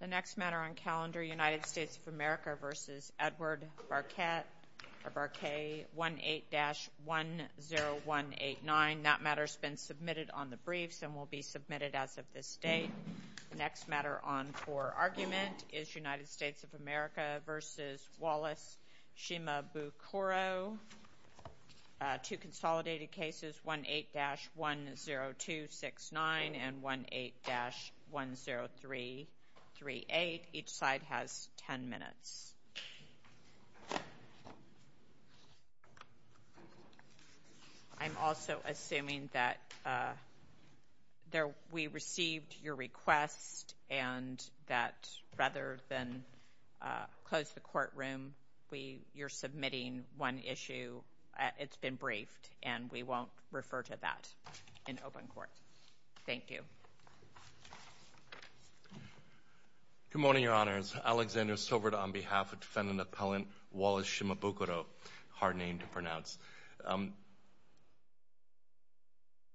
The next matter on calendar, United States of America v. Edward Barquet, 18-10189. That matter's been submitted on the briefs and will be submitted as of this date. The next matter on for argument is United States of America v. Wallace Shimabukuro. Two consolidated cases, 18-10269 and 18-10338. Each side has 10 minutes. I'm also assuming that we received your request and that rather than close the courtroom, you're submitting one issue. It's been briefed and we won't refer to that in open court. Thank you. Good morning, Your Honors. Alexander Silver on behalf of Defendant Appellant Wallace Shimabukuro, hard name to pronounce.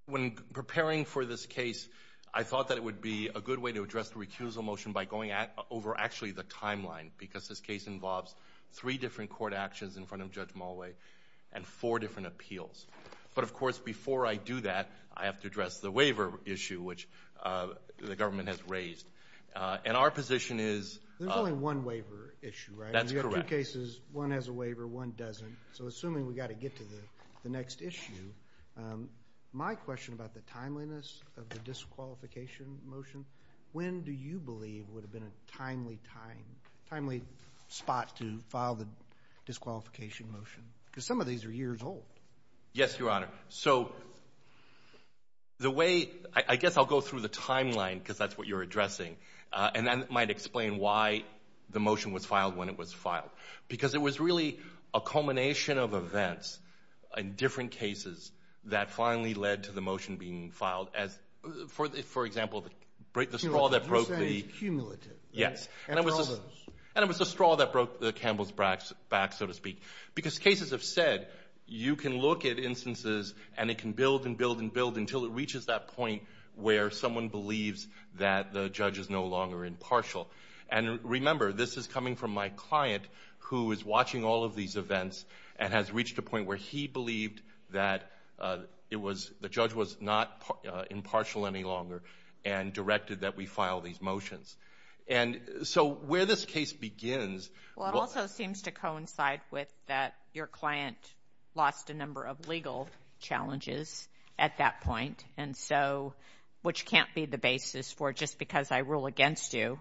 When preparing for this case, I thought that it would be a good way to address the recusal motion by going over actually the timeline, because this case involves three different court actions in front of Judge Mulway and four different appeals. But of course, before I do that, I have to address the waiver issue, which the government has raised. And our position is... There's only one waiver issue, right? That's correct. You have two cases. One has a waiver, one doesn't. So assuming we've got to get to the next issue, my question about the timeliness of the disqualification motion, when do you believe would have been a timely time, timely spot to file the disqualification motion? Because some of these are years old. Yes, Your Honor. So the way... I guess I'll go through the timeline because that's what you're addressing and then might explain why the motion was filed when it was filed. Because it was really a culmination of events in different cases that finally led to the straw that broke the... You're saying it's cumulative. Yes. And all those. And it was a straw that broke the Campbell's back, so to speak. Because cases have said, you can look at instances and it can build and build and build until it reaches that point where someone believes that the judge is no longer impartial. And remember, this is coming from my client who is watching all of these events and has and directed that we file these motions. And so where this case begins... Well, it also seems to coincide with that your client lost a number of legal challenges at that point, and so, which can't be the basis for just because I rule against you,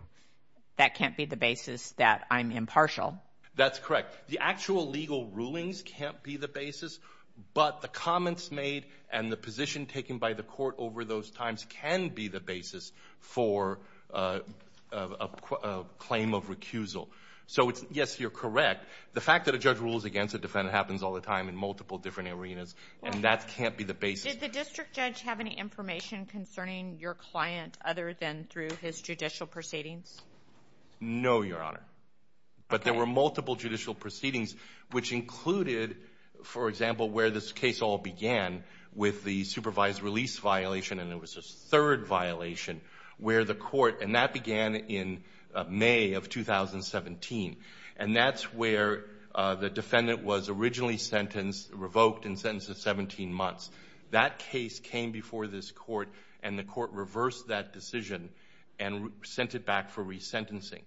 that can't be the basis that I'm impartial. That's correct. The actual legal rulings can't be the basis, but the comments made and the position taken by the court over those times can be the basis for a claim of recusal. So it's... Yes, you're correct. The fact that a judge rules against a defendant happens all the time in multiple different arenas and that can't be the basis. Did the district judge have any information concerning your client other than through his judicial proceedings? No, Your Honor. But there were multiple judicial proceedings, which included, for example, where this case all began with the supervised release violation and there was a third violation where the court... And that began in May of 2017. And that's where the defendant was originally sentenced, revoked and sentenced to 17 months. That case came before this court and the court reversed that decision and sent it back for resentencing.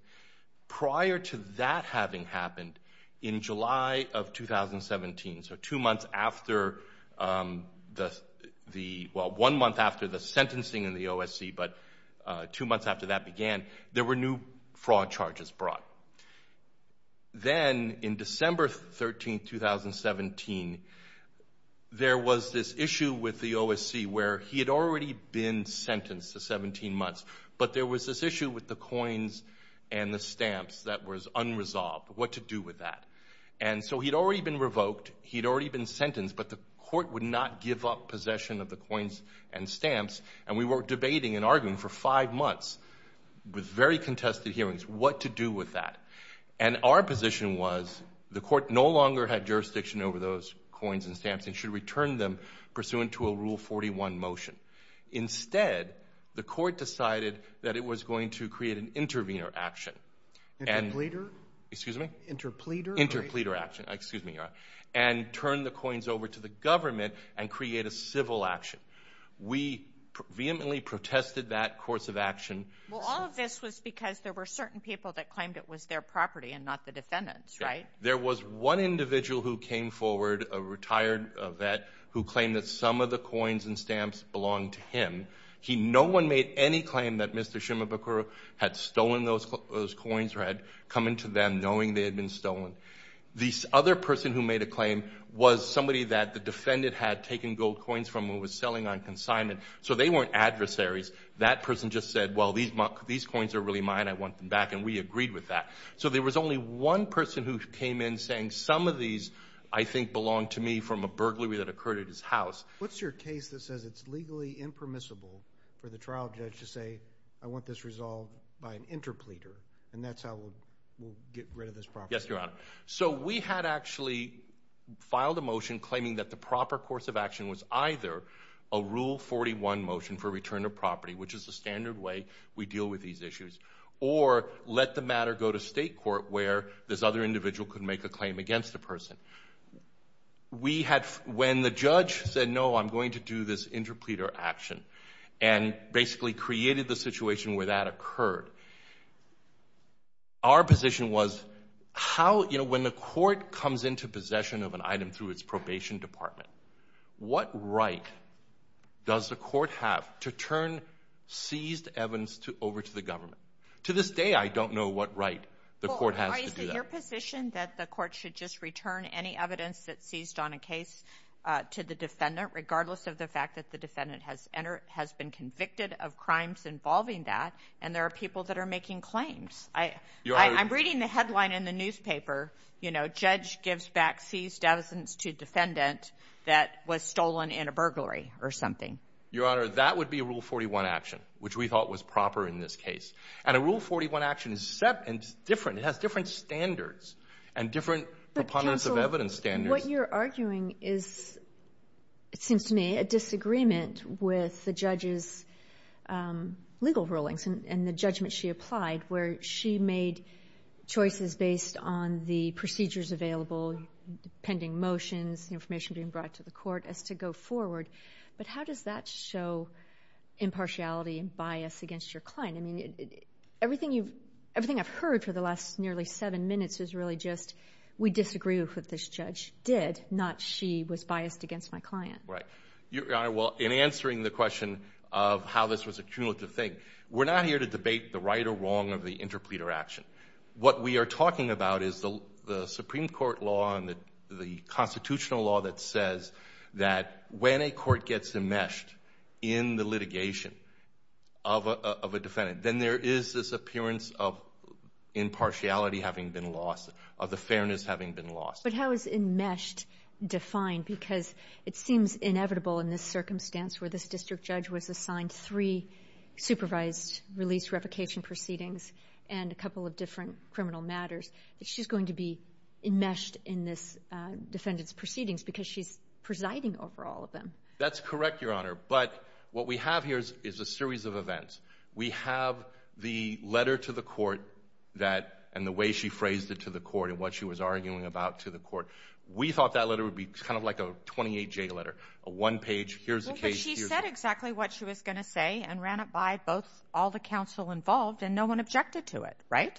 Prior to that having happened, in July of 2017, so two months after the... Well, one month after the sentencing in the OSC, but two months after that began, there were new fraud charges brought. Then in December 13th, 2017, there was this issue with the OSC where he had already been and the stamps that was unresolved. What to do with that? And so he'd already been revoked, he'd already been sentenced, but the court would not give up possession of the coins and stamps. And we were debating and arguing for five months with very contested hearings what to do with that. And our position was the court no longer had jurisdiction over those coins and stamps and should return them pursuant to a Rule 41 motion. Instead, the court decided that it was going to create an intervener action. Interpleader? Excuse me? Interpleader? Interpleader action. Excuse me. And turn the coins over to the government and create a civil action. We vehemently protested that course of action. Well, all of this was because there were certain people that claimed it was their property and not the defendant's, right? There was one individual who came forward, a retired vet, who claimed that some of the coins belonged to him. No one made any claim that Mr. Shimabukuro had stolen those coins or had come into them knowing they had been stolen. The other person who made a claim was somebody that the defendant had taken gold coins from and was selling on consignment. So they weren't adversaries. That person just said, well, these coins are really mine. I want them back. And we agreed with that. So there was only one person who came in saying, some of these, I think, belong to me from a burglary that occurred at his house. What's your case that says it's legally impermissible for the trial judge to say, I want this resolved by an interpleader, and that's how we'll get rid of this property? Yes, Your Honor. So we had actually filed a motion claiming that the proper course of action was either a Rule 41 motion for return of property, which is the standard way we deal with these issues, or let the matter go to state court where this other individual could make a claim against the person. We had, when the judge said, no, I'm going to do this interpleader action, and basically created the situation where that occurred, our position was, how, you know, when the court comes into possession of an item through its probation department, what right does the court have to turn seized evidence over to the government? To this day, I don't know what right the court has to do that. Is there a position that the court should just return any evidence that's seized on a case to the defendant, regardless of the fact that the defendant has been convicted of crimes involving that, and there are people that are making claims? I'm reading the headline in the newspaper, you know, judge gives back seized evidence to defendant that was stolen in a burglary or something. Your Honor, that would be a Rule 41 action, which we thought was proper in this case. And a Rule 41 action is different, it has different standards, and different proponents of evidence standards. But counsel, what you're arguing is, it seems to me, a disagreement with the judge's legal rulings and the judgment she applied, where she made choices based on the procedures available, pending motions, information being brought to the court, as to go forward. But how does that show impartiality and bias against your client? I mean, everything I've heard for the last nearly seven minutes is really just, we disagree with what this judge did, not she was biased against my client. Right. Your Honor, well, in answering the question of how this was a cumulative thing, we're not here to debate the right or wrong of the interpleader action. What we are talking about is the Supreme Court law and the constitutional law that says that when a court gets enmeshed in the litigation of a defendant, then there is this appearance of impartiality having been lost, of the fairness having been lost. But how is enmeshed defined? Because it seems inevitable in this circumstance, where this district judge was assigned three supervised release revocation proceedings and a couple of different criminal matters, that she's going to be enmeshed in this defendant's proceedings because she's presiding over all of them. That's correct, Your Honor. But what we have here is a series of events. We have the letter to the court that, and the way she phrased it to the court and what she was arguing about to the court. We thought that letter would be kind of like a 28-J letter, a one-page, here's the case, here's the... Well, but she said exactly what she was going to say and ran it by both, all the counsel involved and no one objected to it, right?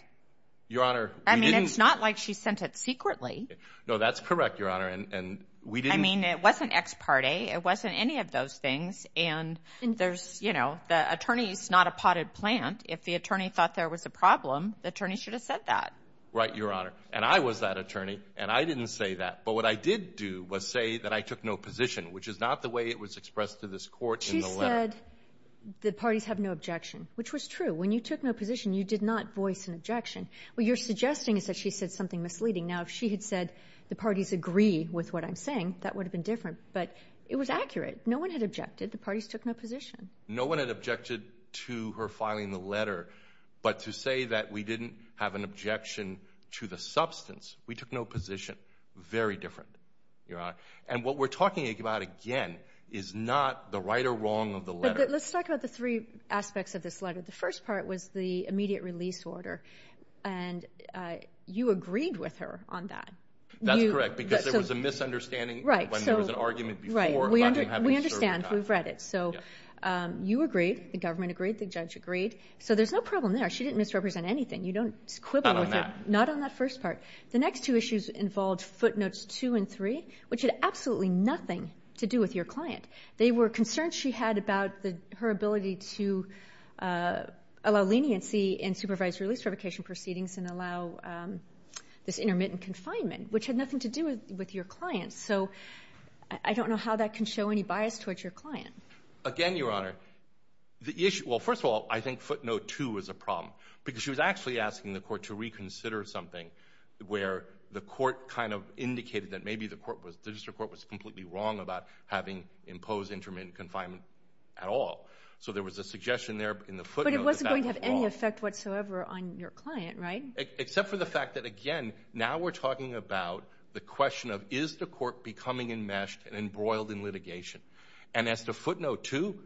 Your Honor, we didn't... I mean, it's not like she sent it secretly. No, that's correct, Your Honor, and we didn't... I mean, it wasn't ex parte, it wasn't any of those things, and there's, you know, the attorney's not a potted plant. If the attorney thought there was a problem, the attorney should have said that. Right, Your Honor. And I was that attorney, and I didn't say that. But what I did do was say that I took no position, which is not the way it was expressed to this court in the letter. She said the parties have no objection, which was true. When you took no position, you did not voice an objection. What you're suggesting is that she said something misleading. Now, if she had said the parties agree with what I'm saying, that would have been different, but it was accurate. No one had objected. The parties took no position. No one had objected to her filing the letter, but to say that we didn't have an objection to the substance, we took no position, very different, Your Honor. And what we're talking about, again, is not the right or wrong of the letter. Let's talk about the three aspects of this letter. The first part was the immediate release order, and you agreed with her on that. That's correct, because there was a misunderstanding when there was an argument before about him having served a time. We understand. We've read it. So you agreed. The government agreed. The judge agreed. So there's no problem there. She didn't misrepresent anything. You don't quibble with her. Not on that. Not on that first part. The next two issues involved footnotes two and three, which had absolutely nothing to do with your client. They were concerns she had about her ability to allow leniency in supervised release revocation proceedings and allow this intermittent confinement, which had nothing to do with your client. So I don't know how that can show any bias towards your client. Again, Your Honor, the issue — well, first of all, I think footnote two is a problem, because she was actually asking the Court to reconsider something where the Court kind of indicated that maybe the court was — the district court was completely wrong about having imposed intermittent confinement at all. So there was a suggestion there in the footnotes about the law. But it wasn't going to have any effect whatsoever on your client, right? Except for the fact that, again, now we're talking about the question of, is the court becoming enmeshed and embroiled in litigation? And as to footnote two,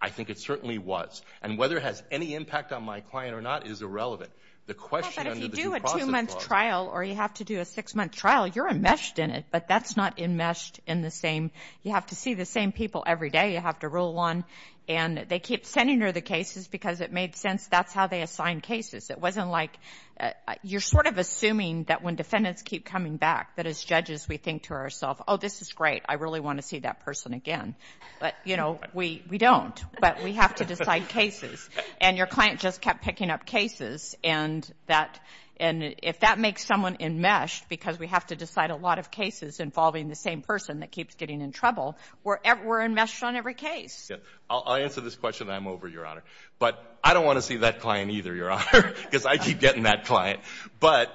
I think it certainly was. And whether it has any impact on my client or not is irrelevant. The question under the due process law — You're enmeshed in it, but that's not enmeshed in the same — you have to see the same people every day. You have to rule one. And they keep sending her the cases because it made sense that's how they assign cases. It wasn't like — you're sort of assuming that when defendants keep coming back, that as judges we think to ourselves, oh, this is great, I really want to see that person again. But, you know, we don't. But we have to decide cases. And your client just kept picking up cases, and that — and if that makes someone enmeshed because we have to decide a lot of cases involving the same person that keeps getting in trouble, we're enmeshed on every case. Yeah. I'll answer this question, and I'm over, Your Honor. But I don't want to see that client either, Your Honor, because I keep getting that client. But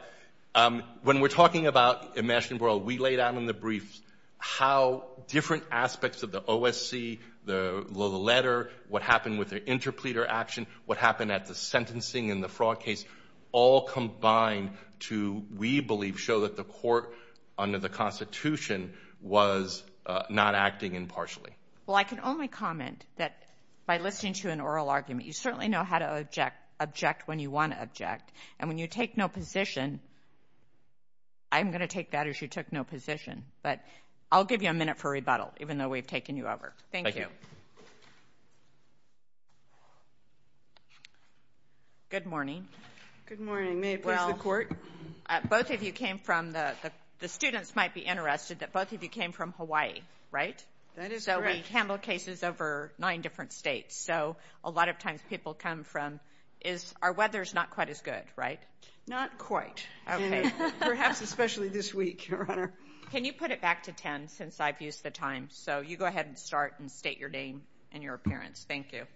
when we're talking about enmeshed and embroiled, we lay down in the briefs how different aspects of the OSC, the letter, what happened with the interpleader action, what happened at the sentencing and the fraud case, all combined to, we believe, show that the court under the Constitution was not acting impartially. Well, I can only comment that by listening to an oral argument, you certainly know how to object when you want to object. And when you take no position, I'm going to take that as you took no position. But I'll give you a minute for rebuttal, even though we've taken you over. Thank you. Thank you. Good morning. Good morning. May it please the Court? Well, both of you came from the, the students might be interested that both of you came from Hawaii, right? That is correct. So we handle cases over nine different states. So a lot of times people come from, is, our weather's not quite as good, right? Not quite. Okay. Perhaps especially this week, Your Honor. Can you put it back to 10 since I've used the time? Thank you. Thank you. Thank you. Thank you. Thank you.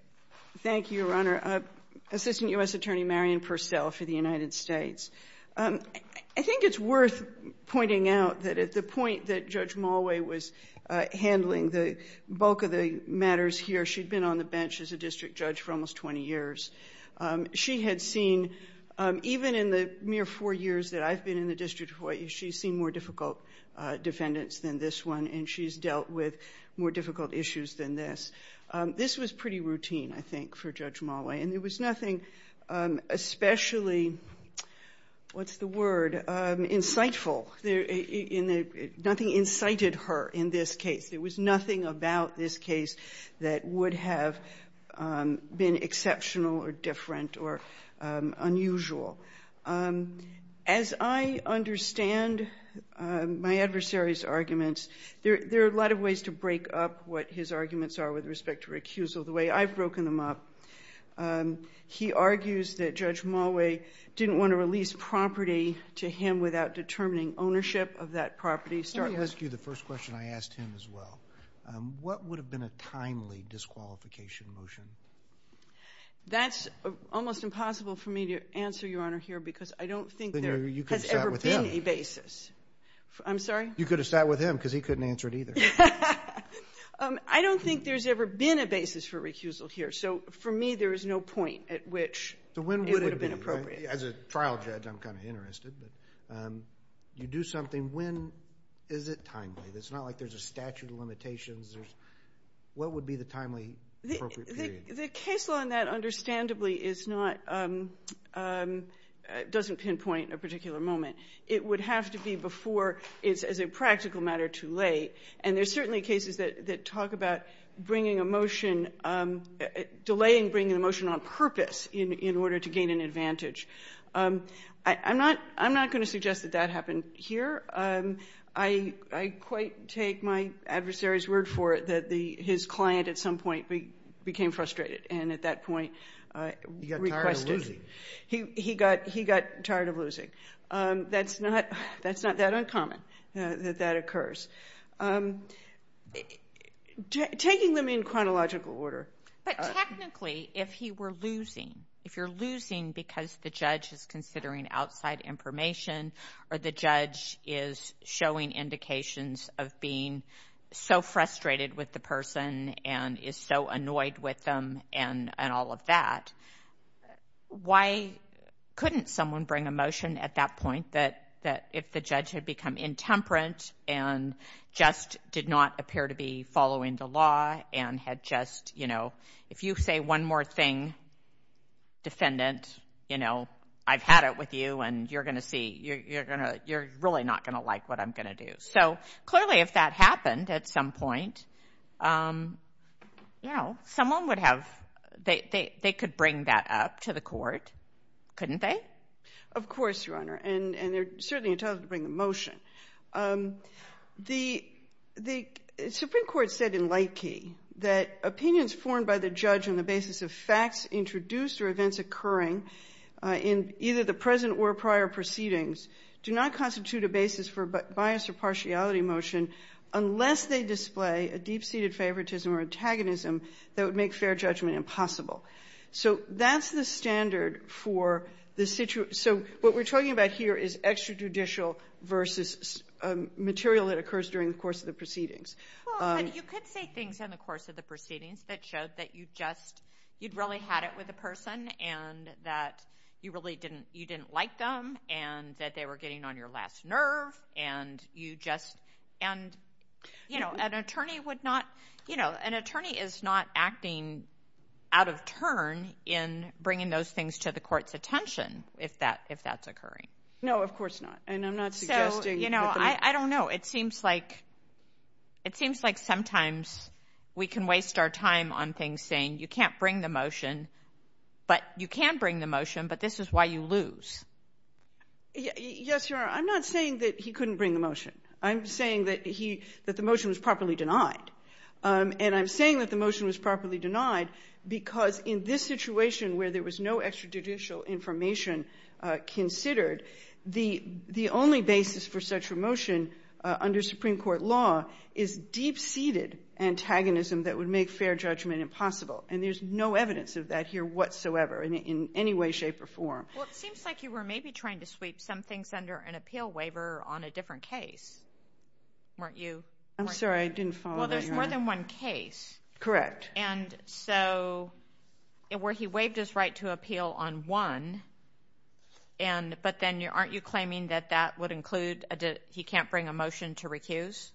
Thank you. Thank you. Thank you. Thank you. Thank you. Thank you. I appreciate the attention and the attention that you're providing. And so I look forward to our team and your appearance. Thank you. Thank you, Your Honor. Assistant U.S. Attorney Marian Pursell for the United States. I think it's worth pointing out that at the point that Judge Mulway was handling the bulk of the matters here, she had been on the bench as a district judge for almost 20 years. She had seen, even in the mere four years that I've been in the District of Hawaii, she's seen more difficult defendants than this one. And she's dealt with more difficult issues than this. This was pretty routine, I think, for Judge Mulway. And there was nothing especially, what's the word, insightful. Nothing incited her in this case. There was nothing about this case that would have been exceptional or different or unusual. As I understand my adversary's arguments, there are a lot of ways to break up what his arguments are with respect to recusal, the way I've broken them up. He argues that Judge Mulway didn't want to release property to him without determining ownership of that property. Let me ask you the first question I asked him as well. What would have been a timely disqualification motion? That's almost impossible for me to answer, Your Honor, here, because I don't think there has ever been a basis. You could have sat with him. I'm sorry? You could have sat with him, because he couldn't answer it either. I don't think there's ever been a basis for recusal here. So for me, there is no point at which it would have been appropriate. As a trial judge, I'm kind of interested. You do something. When is it timely? It's not like there's a statute of limitations. There's what would be the timely appropriate period? The case law on that, understandably, is not — doesn't pinpoint a particular moment. It would have to be before it's, as a practical matter, too late. And there's certainly cases that talk about bringing a motion — delaying bringing a motion on purpose in order to gain an advantage. I'm not going to suggest that that happened here. I quite take my adversary's word for it that his client at some point became frustrated and, at that point, requested — He got tired of losing. He got tired of losing. That's not — that's not that uncommon, that that occurs. Taking them in chronological order — But technically, if he were losing, if you're losing because the judge is considering outside information or the judge is showing indications of being so frustrated with the person and is so annoyed with them and all of that, why couldn't someone bring a motion at that point that, if the judge had become intemperate and just did not appear to be following the law and had just, you know — If you say one more thing, defendant, you know, I've had it with you and you're going to see — you're going to — you're really not going to like what I'm going to do. So clearly, if that happened at some point, you know, someone would have — they could bring that up to the court, couldn't they? Of course, Your Honor, and they're certainly entitled to bring a motion. The — the Supreme Court said in Lightkey that opinions formed by the judge on the basis of facts introduced or events occurring in either the present or prior proceedings do not constitute a basis for bias or partiality motion unless they display a deep-seated favoritism or antagonism that would make fair judgment impossible. So that's the standard for the — so what we're talking about here is extrajudicial versus material that occurs during the course of the proceedings. Well, but you could say things in the course of the proceedings that showed that you just — you'd really had it with the person and that you really didn't — you didn't like them and that they were getting on your last nerve and you just — and, you know, an attorney would not — you know, an attorney is not acting out of turn in bringing those things to the court's attention if that — if that's occurring. No, of course not. And I'm not suggesting that the — So, you know, I don't know. It seems like — it seems like sometimes we can waste our time on things saying you can't bring the motion, but — you can bring the motion, but this is why you lose. Yes, Your Honor. I'm not saying that he couldn't bring the motion. I'm saying that he — that the motion was properly denied. And I'm saying that the motion was properly denied because in this situation where there was no extrajudicial information considered, the only basis for such a motion under Supreme Court law is deep-seated antagonism that would make fair judgment impossible. And there's no evidence of that here whatsoever in any way, shape, or form. Well, it seems like you were maybe trying to sweep some things under an appeal waiver on a different case, weren't you? I'm sorry. I didn't follow that, Your Honor. Well, there's more than one case. Correct. And so where he waived his right to appeal on one, and — but then aren't you claiming that that would include a — he can't bring a motion to recuse?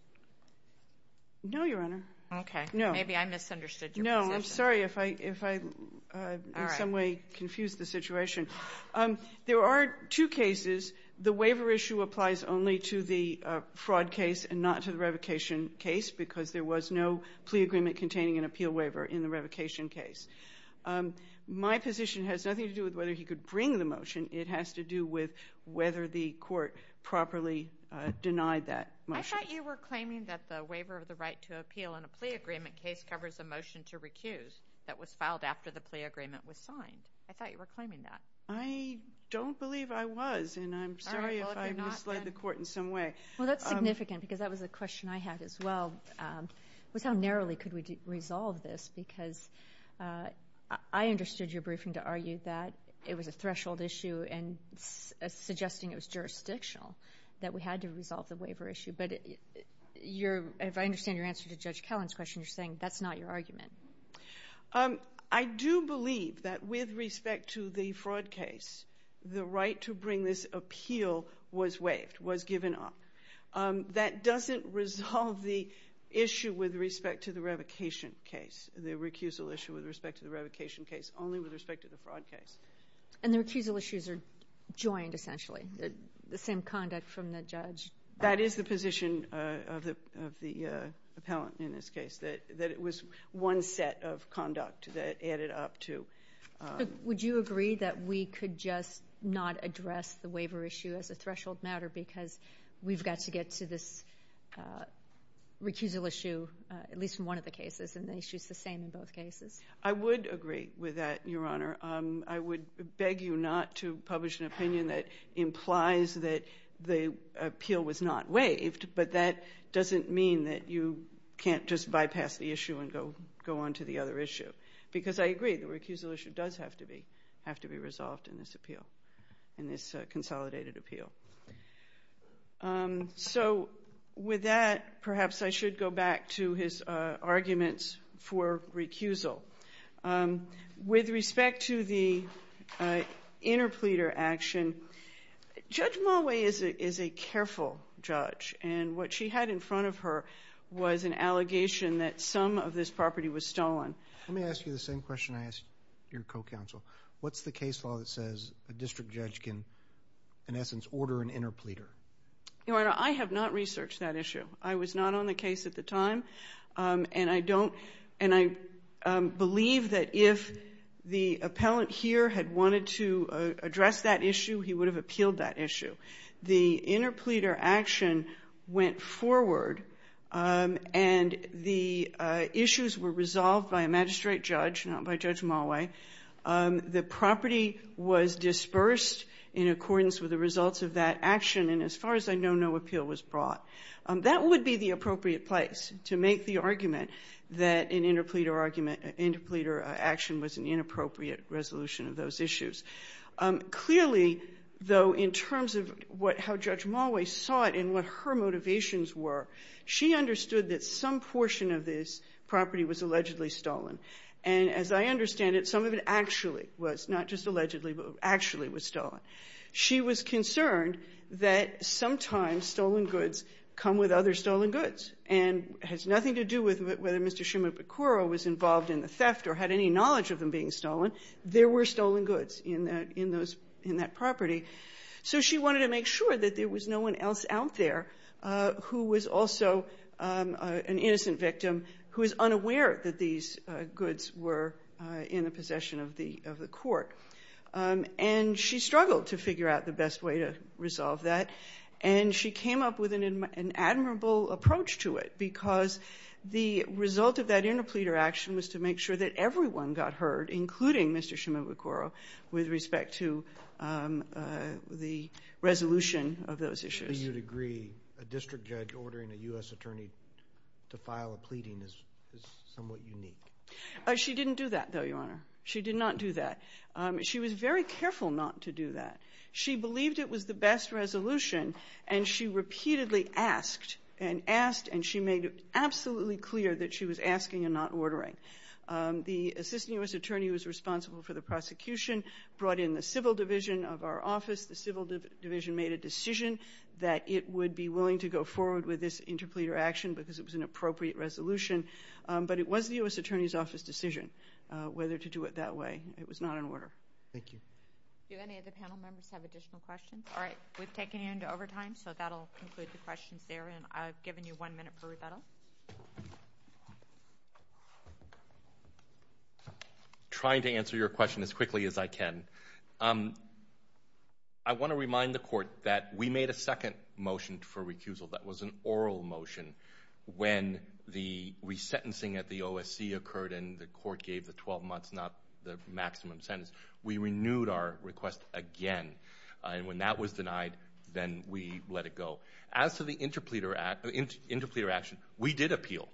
No, Your Honor. Okay. No. Maybe I misunderstood your position. No. I'm sorry if I — if I in some way confused the situation. There are two cases. The waiver issue applies only to the fraud case and not to the revocation case because there was no plea agreement containing an appeal waiver in the revocation case. My position has nothing to do with whether he could bring the motion. It has to do with whether the court properly denied that motion. I thought you were claiming that the waiver of the right to appeal in a plea agreement case covers a motion to recuse that was filed after the plea agreement was signed. I thought you were claiming that. I don't believe I was. And I'm sorry if I misled the court in some way. Well, that's significant because that was a question I had as well, was how narrowly could we resolve this? Because I understood your briefing to argue that it was a threshold issue and suggesting it was jurisdictional, that we had to resolve the waiver issue. But you're — if I understand your answer to Judge Kellen's question, you're saying that's not your argument. I do believe that with respect to the fraud case, the right to bring this appeal was waived, was given up. That doesn't resolve the issue with respect to the revocation case, the recusal issue with respect to the revocation case, only with respect to the fraud case. And the recusal issues are joined, essentially, the same conduct from the judge. That is the position of the appellant in this case, that it was one set of conduct that added up to — Would you agree that we could just not address the waiver issue as a threshold matter because we've got to get to this recusal issue, at least in one of the cases, and the issue's the same in both cases? I would agree with that, Your Honor. I would beg you not to publish an opinion that implies that the appeal was not waived, but that doesn't mean that you can't just bypass the issue and go on to the other issue. Because I agree, the recusal issue does have to be resolved in this appeal, in this consolidated appeal. So with that, perhaps I should go back to his arguments for recusal. With respect to the interpleader action, Judge Mulway is a careful judge, and what she had in front of her was an allegation that some of this property was stolen. Let me ask you the same question I asked your co-counsel. What's the case law that says a district judge can, in essence, order an interpleader? Your Honor, I have not researched that issue. I was not on the case at the time, and I believe that if the appellant here had wanted to address that issue, he would have appealed that issue. The interpleader action went forward, and the issues were resolved by a magistrate judge, not by Judge Mulway. The property was dispersed in accordance with the results of that action, and as far as I know, no appeal was brought. That would be the appropriate place to make the argument that an interpleader action was an inappropriate resolution of those issues. Clearly, though, in terms of how Judge Mulway saw it and what her motivations were, she understood that some portion of this property was allegedly stolen. And as I understand it, some of it actually was, not just allegedly, but actually was stolen. She was concerned that sometimes stolen goods come with other stolen goods and has nothing to do with whether Mr. Shimabukuro was involved in the theft or had any knowledge of them being stolen. There were stolen goods in that property. So she wanted to make sure that there was no one else out there who was also an innocent victim who was unaware that these goods were in the possession of the court. And she struggled to figure out the best way to resolve that, and she came up with an admirable approach to it because the result of that interpleader action was to make sure that everyone got heard, including Mr. Shimabukuro, with respect to the resolution of those issues. How do you agree a district judge ordering a U.S. attorney to file a pleading is somewhat unique? She didn't do that, though, Your Honor. She did not do that. She was very careful not to do that. She believed it was the best resolution, and she repeatedly asked and asked, and she made it absolutely clear that she was asking and not ordering. The assistant U.S. attorney who was responsible for the prosecution brought in the civil division of our office. The civil division made a decision that it would be willing to go forward with this interpleader action because it was an appropriate resolution, but it was the U.S. attorney's office decision whether to do it that way. It was not an order. Thank you. Do any of the panel members have additional questions? All right. We've taken you into overtime, so that'll conclude the questions there, and I've given you one minute per rebuttal. Thank you. Trying to answer your question as quickly as I can. I want to remind the court that we made a second motion for recusal. That was an oral motion. When the resentencing at the OSC occurred and the court gave the 12 months, not the maximum sentence, we renewed our request again, and when that was denied, then we let it go. As to the interpleader action, we did appeal.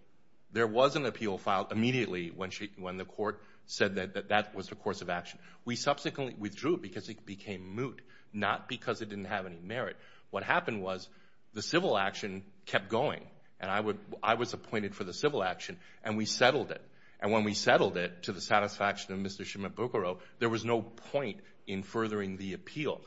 There was an appeal filed immediately when the court said that that was the course of action. We subsequently withdrew it because it became moot, not because it didn't have any merit. What happened was the civil action kept going, and I was appointed for the civil action, and we settled it, and when we settled it to the satisfaction of Mr. Shimabukuro, there was no point in furthering the appeal.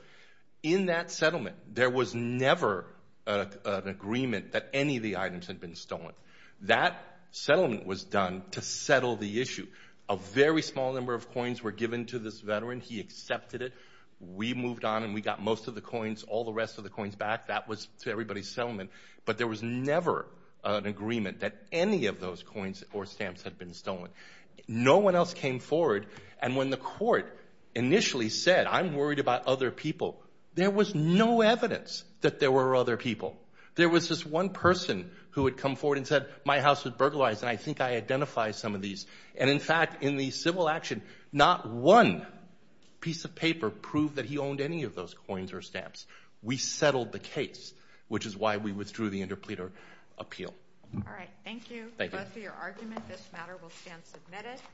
In that settlement, there was never an agreement that any of the items had been stolen. That settlement was done to settle the issue. A very small number of coins were given to this veteran. He accepted it. We moved on, and we got most of the coins, all the rest of the coins back. That was everybody's settlement, but there was never an agreement that any of those coins or stamps had been stolen. No one else came forward, and when the court initially said, I'm worried about other people, there was no evidence that there were other people. There was just one person who had come forward and said, my house was burglarized, and I think I identify some of these, and in fact, in the civil action, not one piece of paper proved that he owned any of those coins or stamps. We settled the case, which is why we withdrew the interpleader appeal. All right, thank you both for your argument. This matter will stand submitted.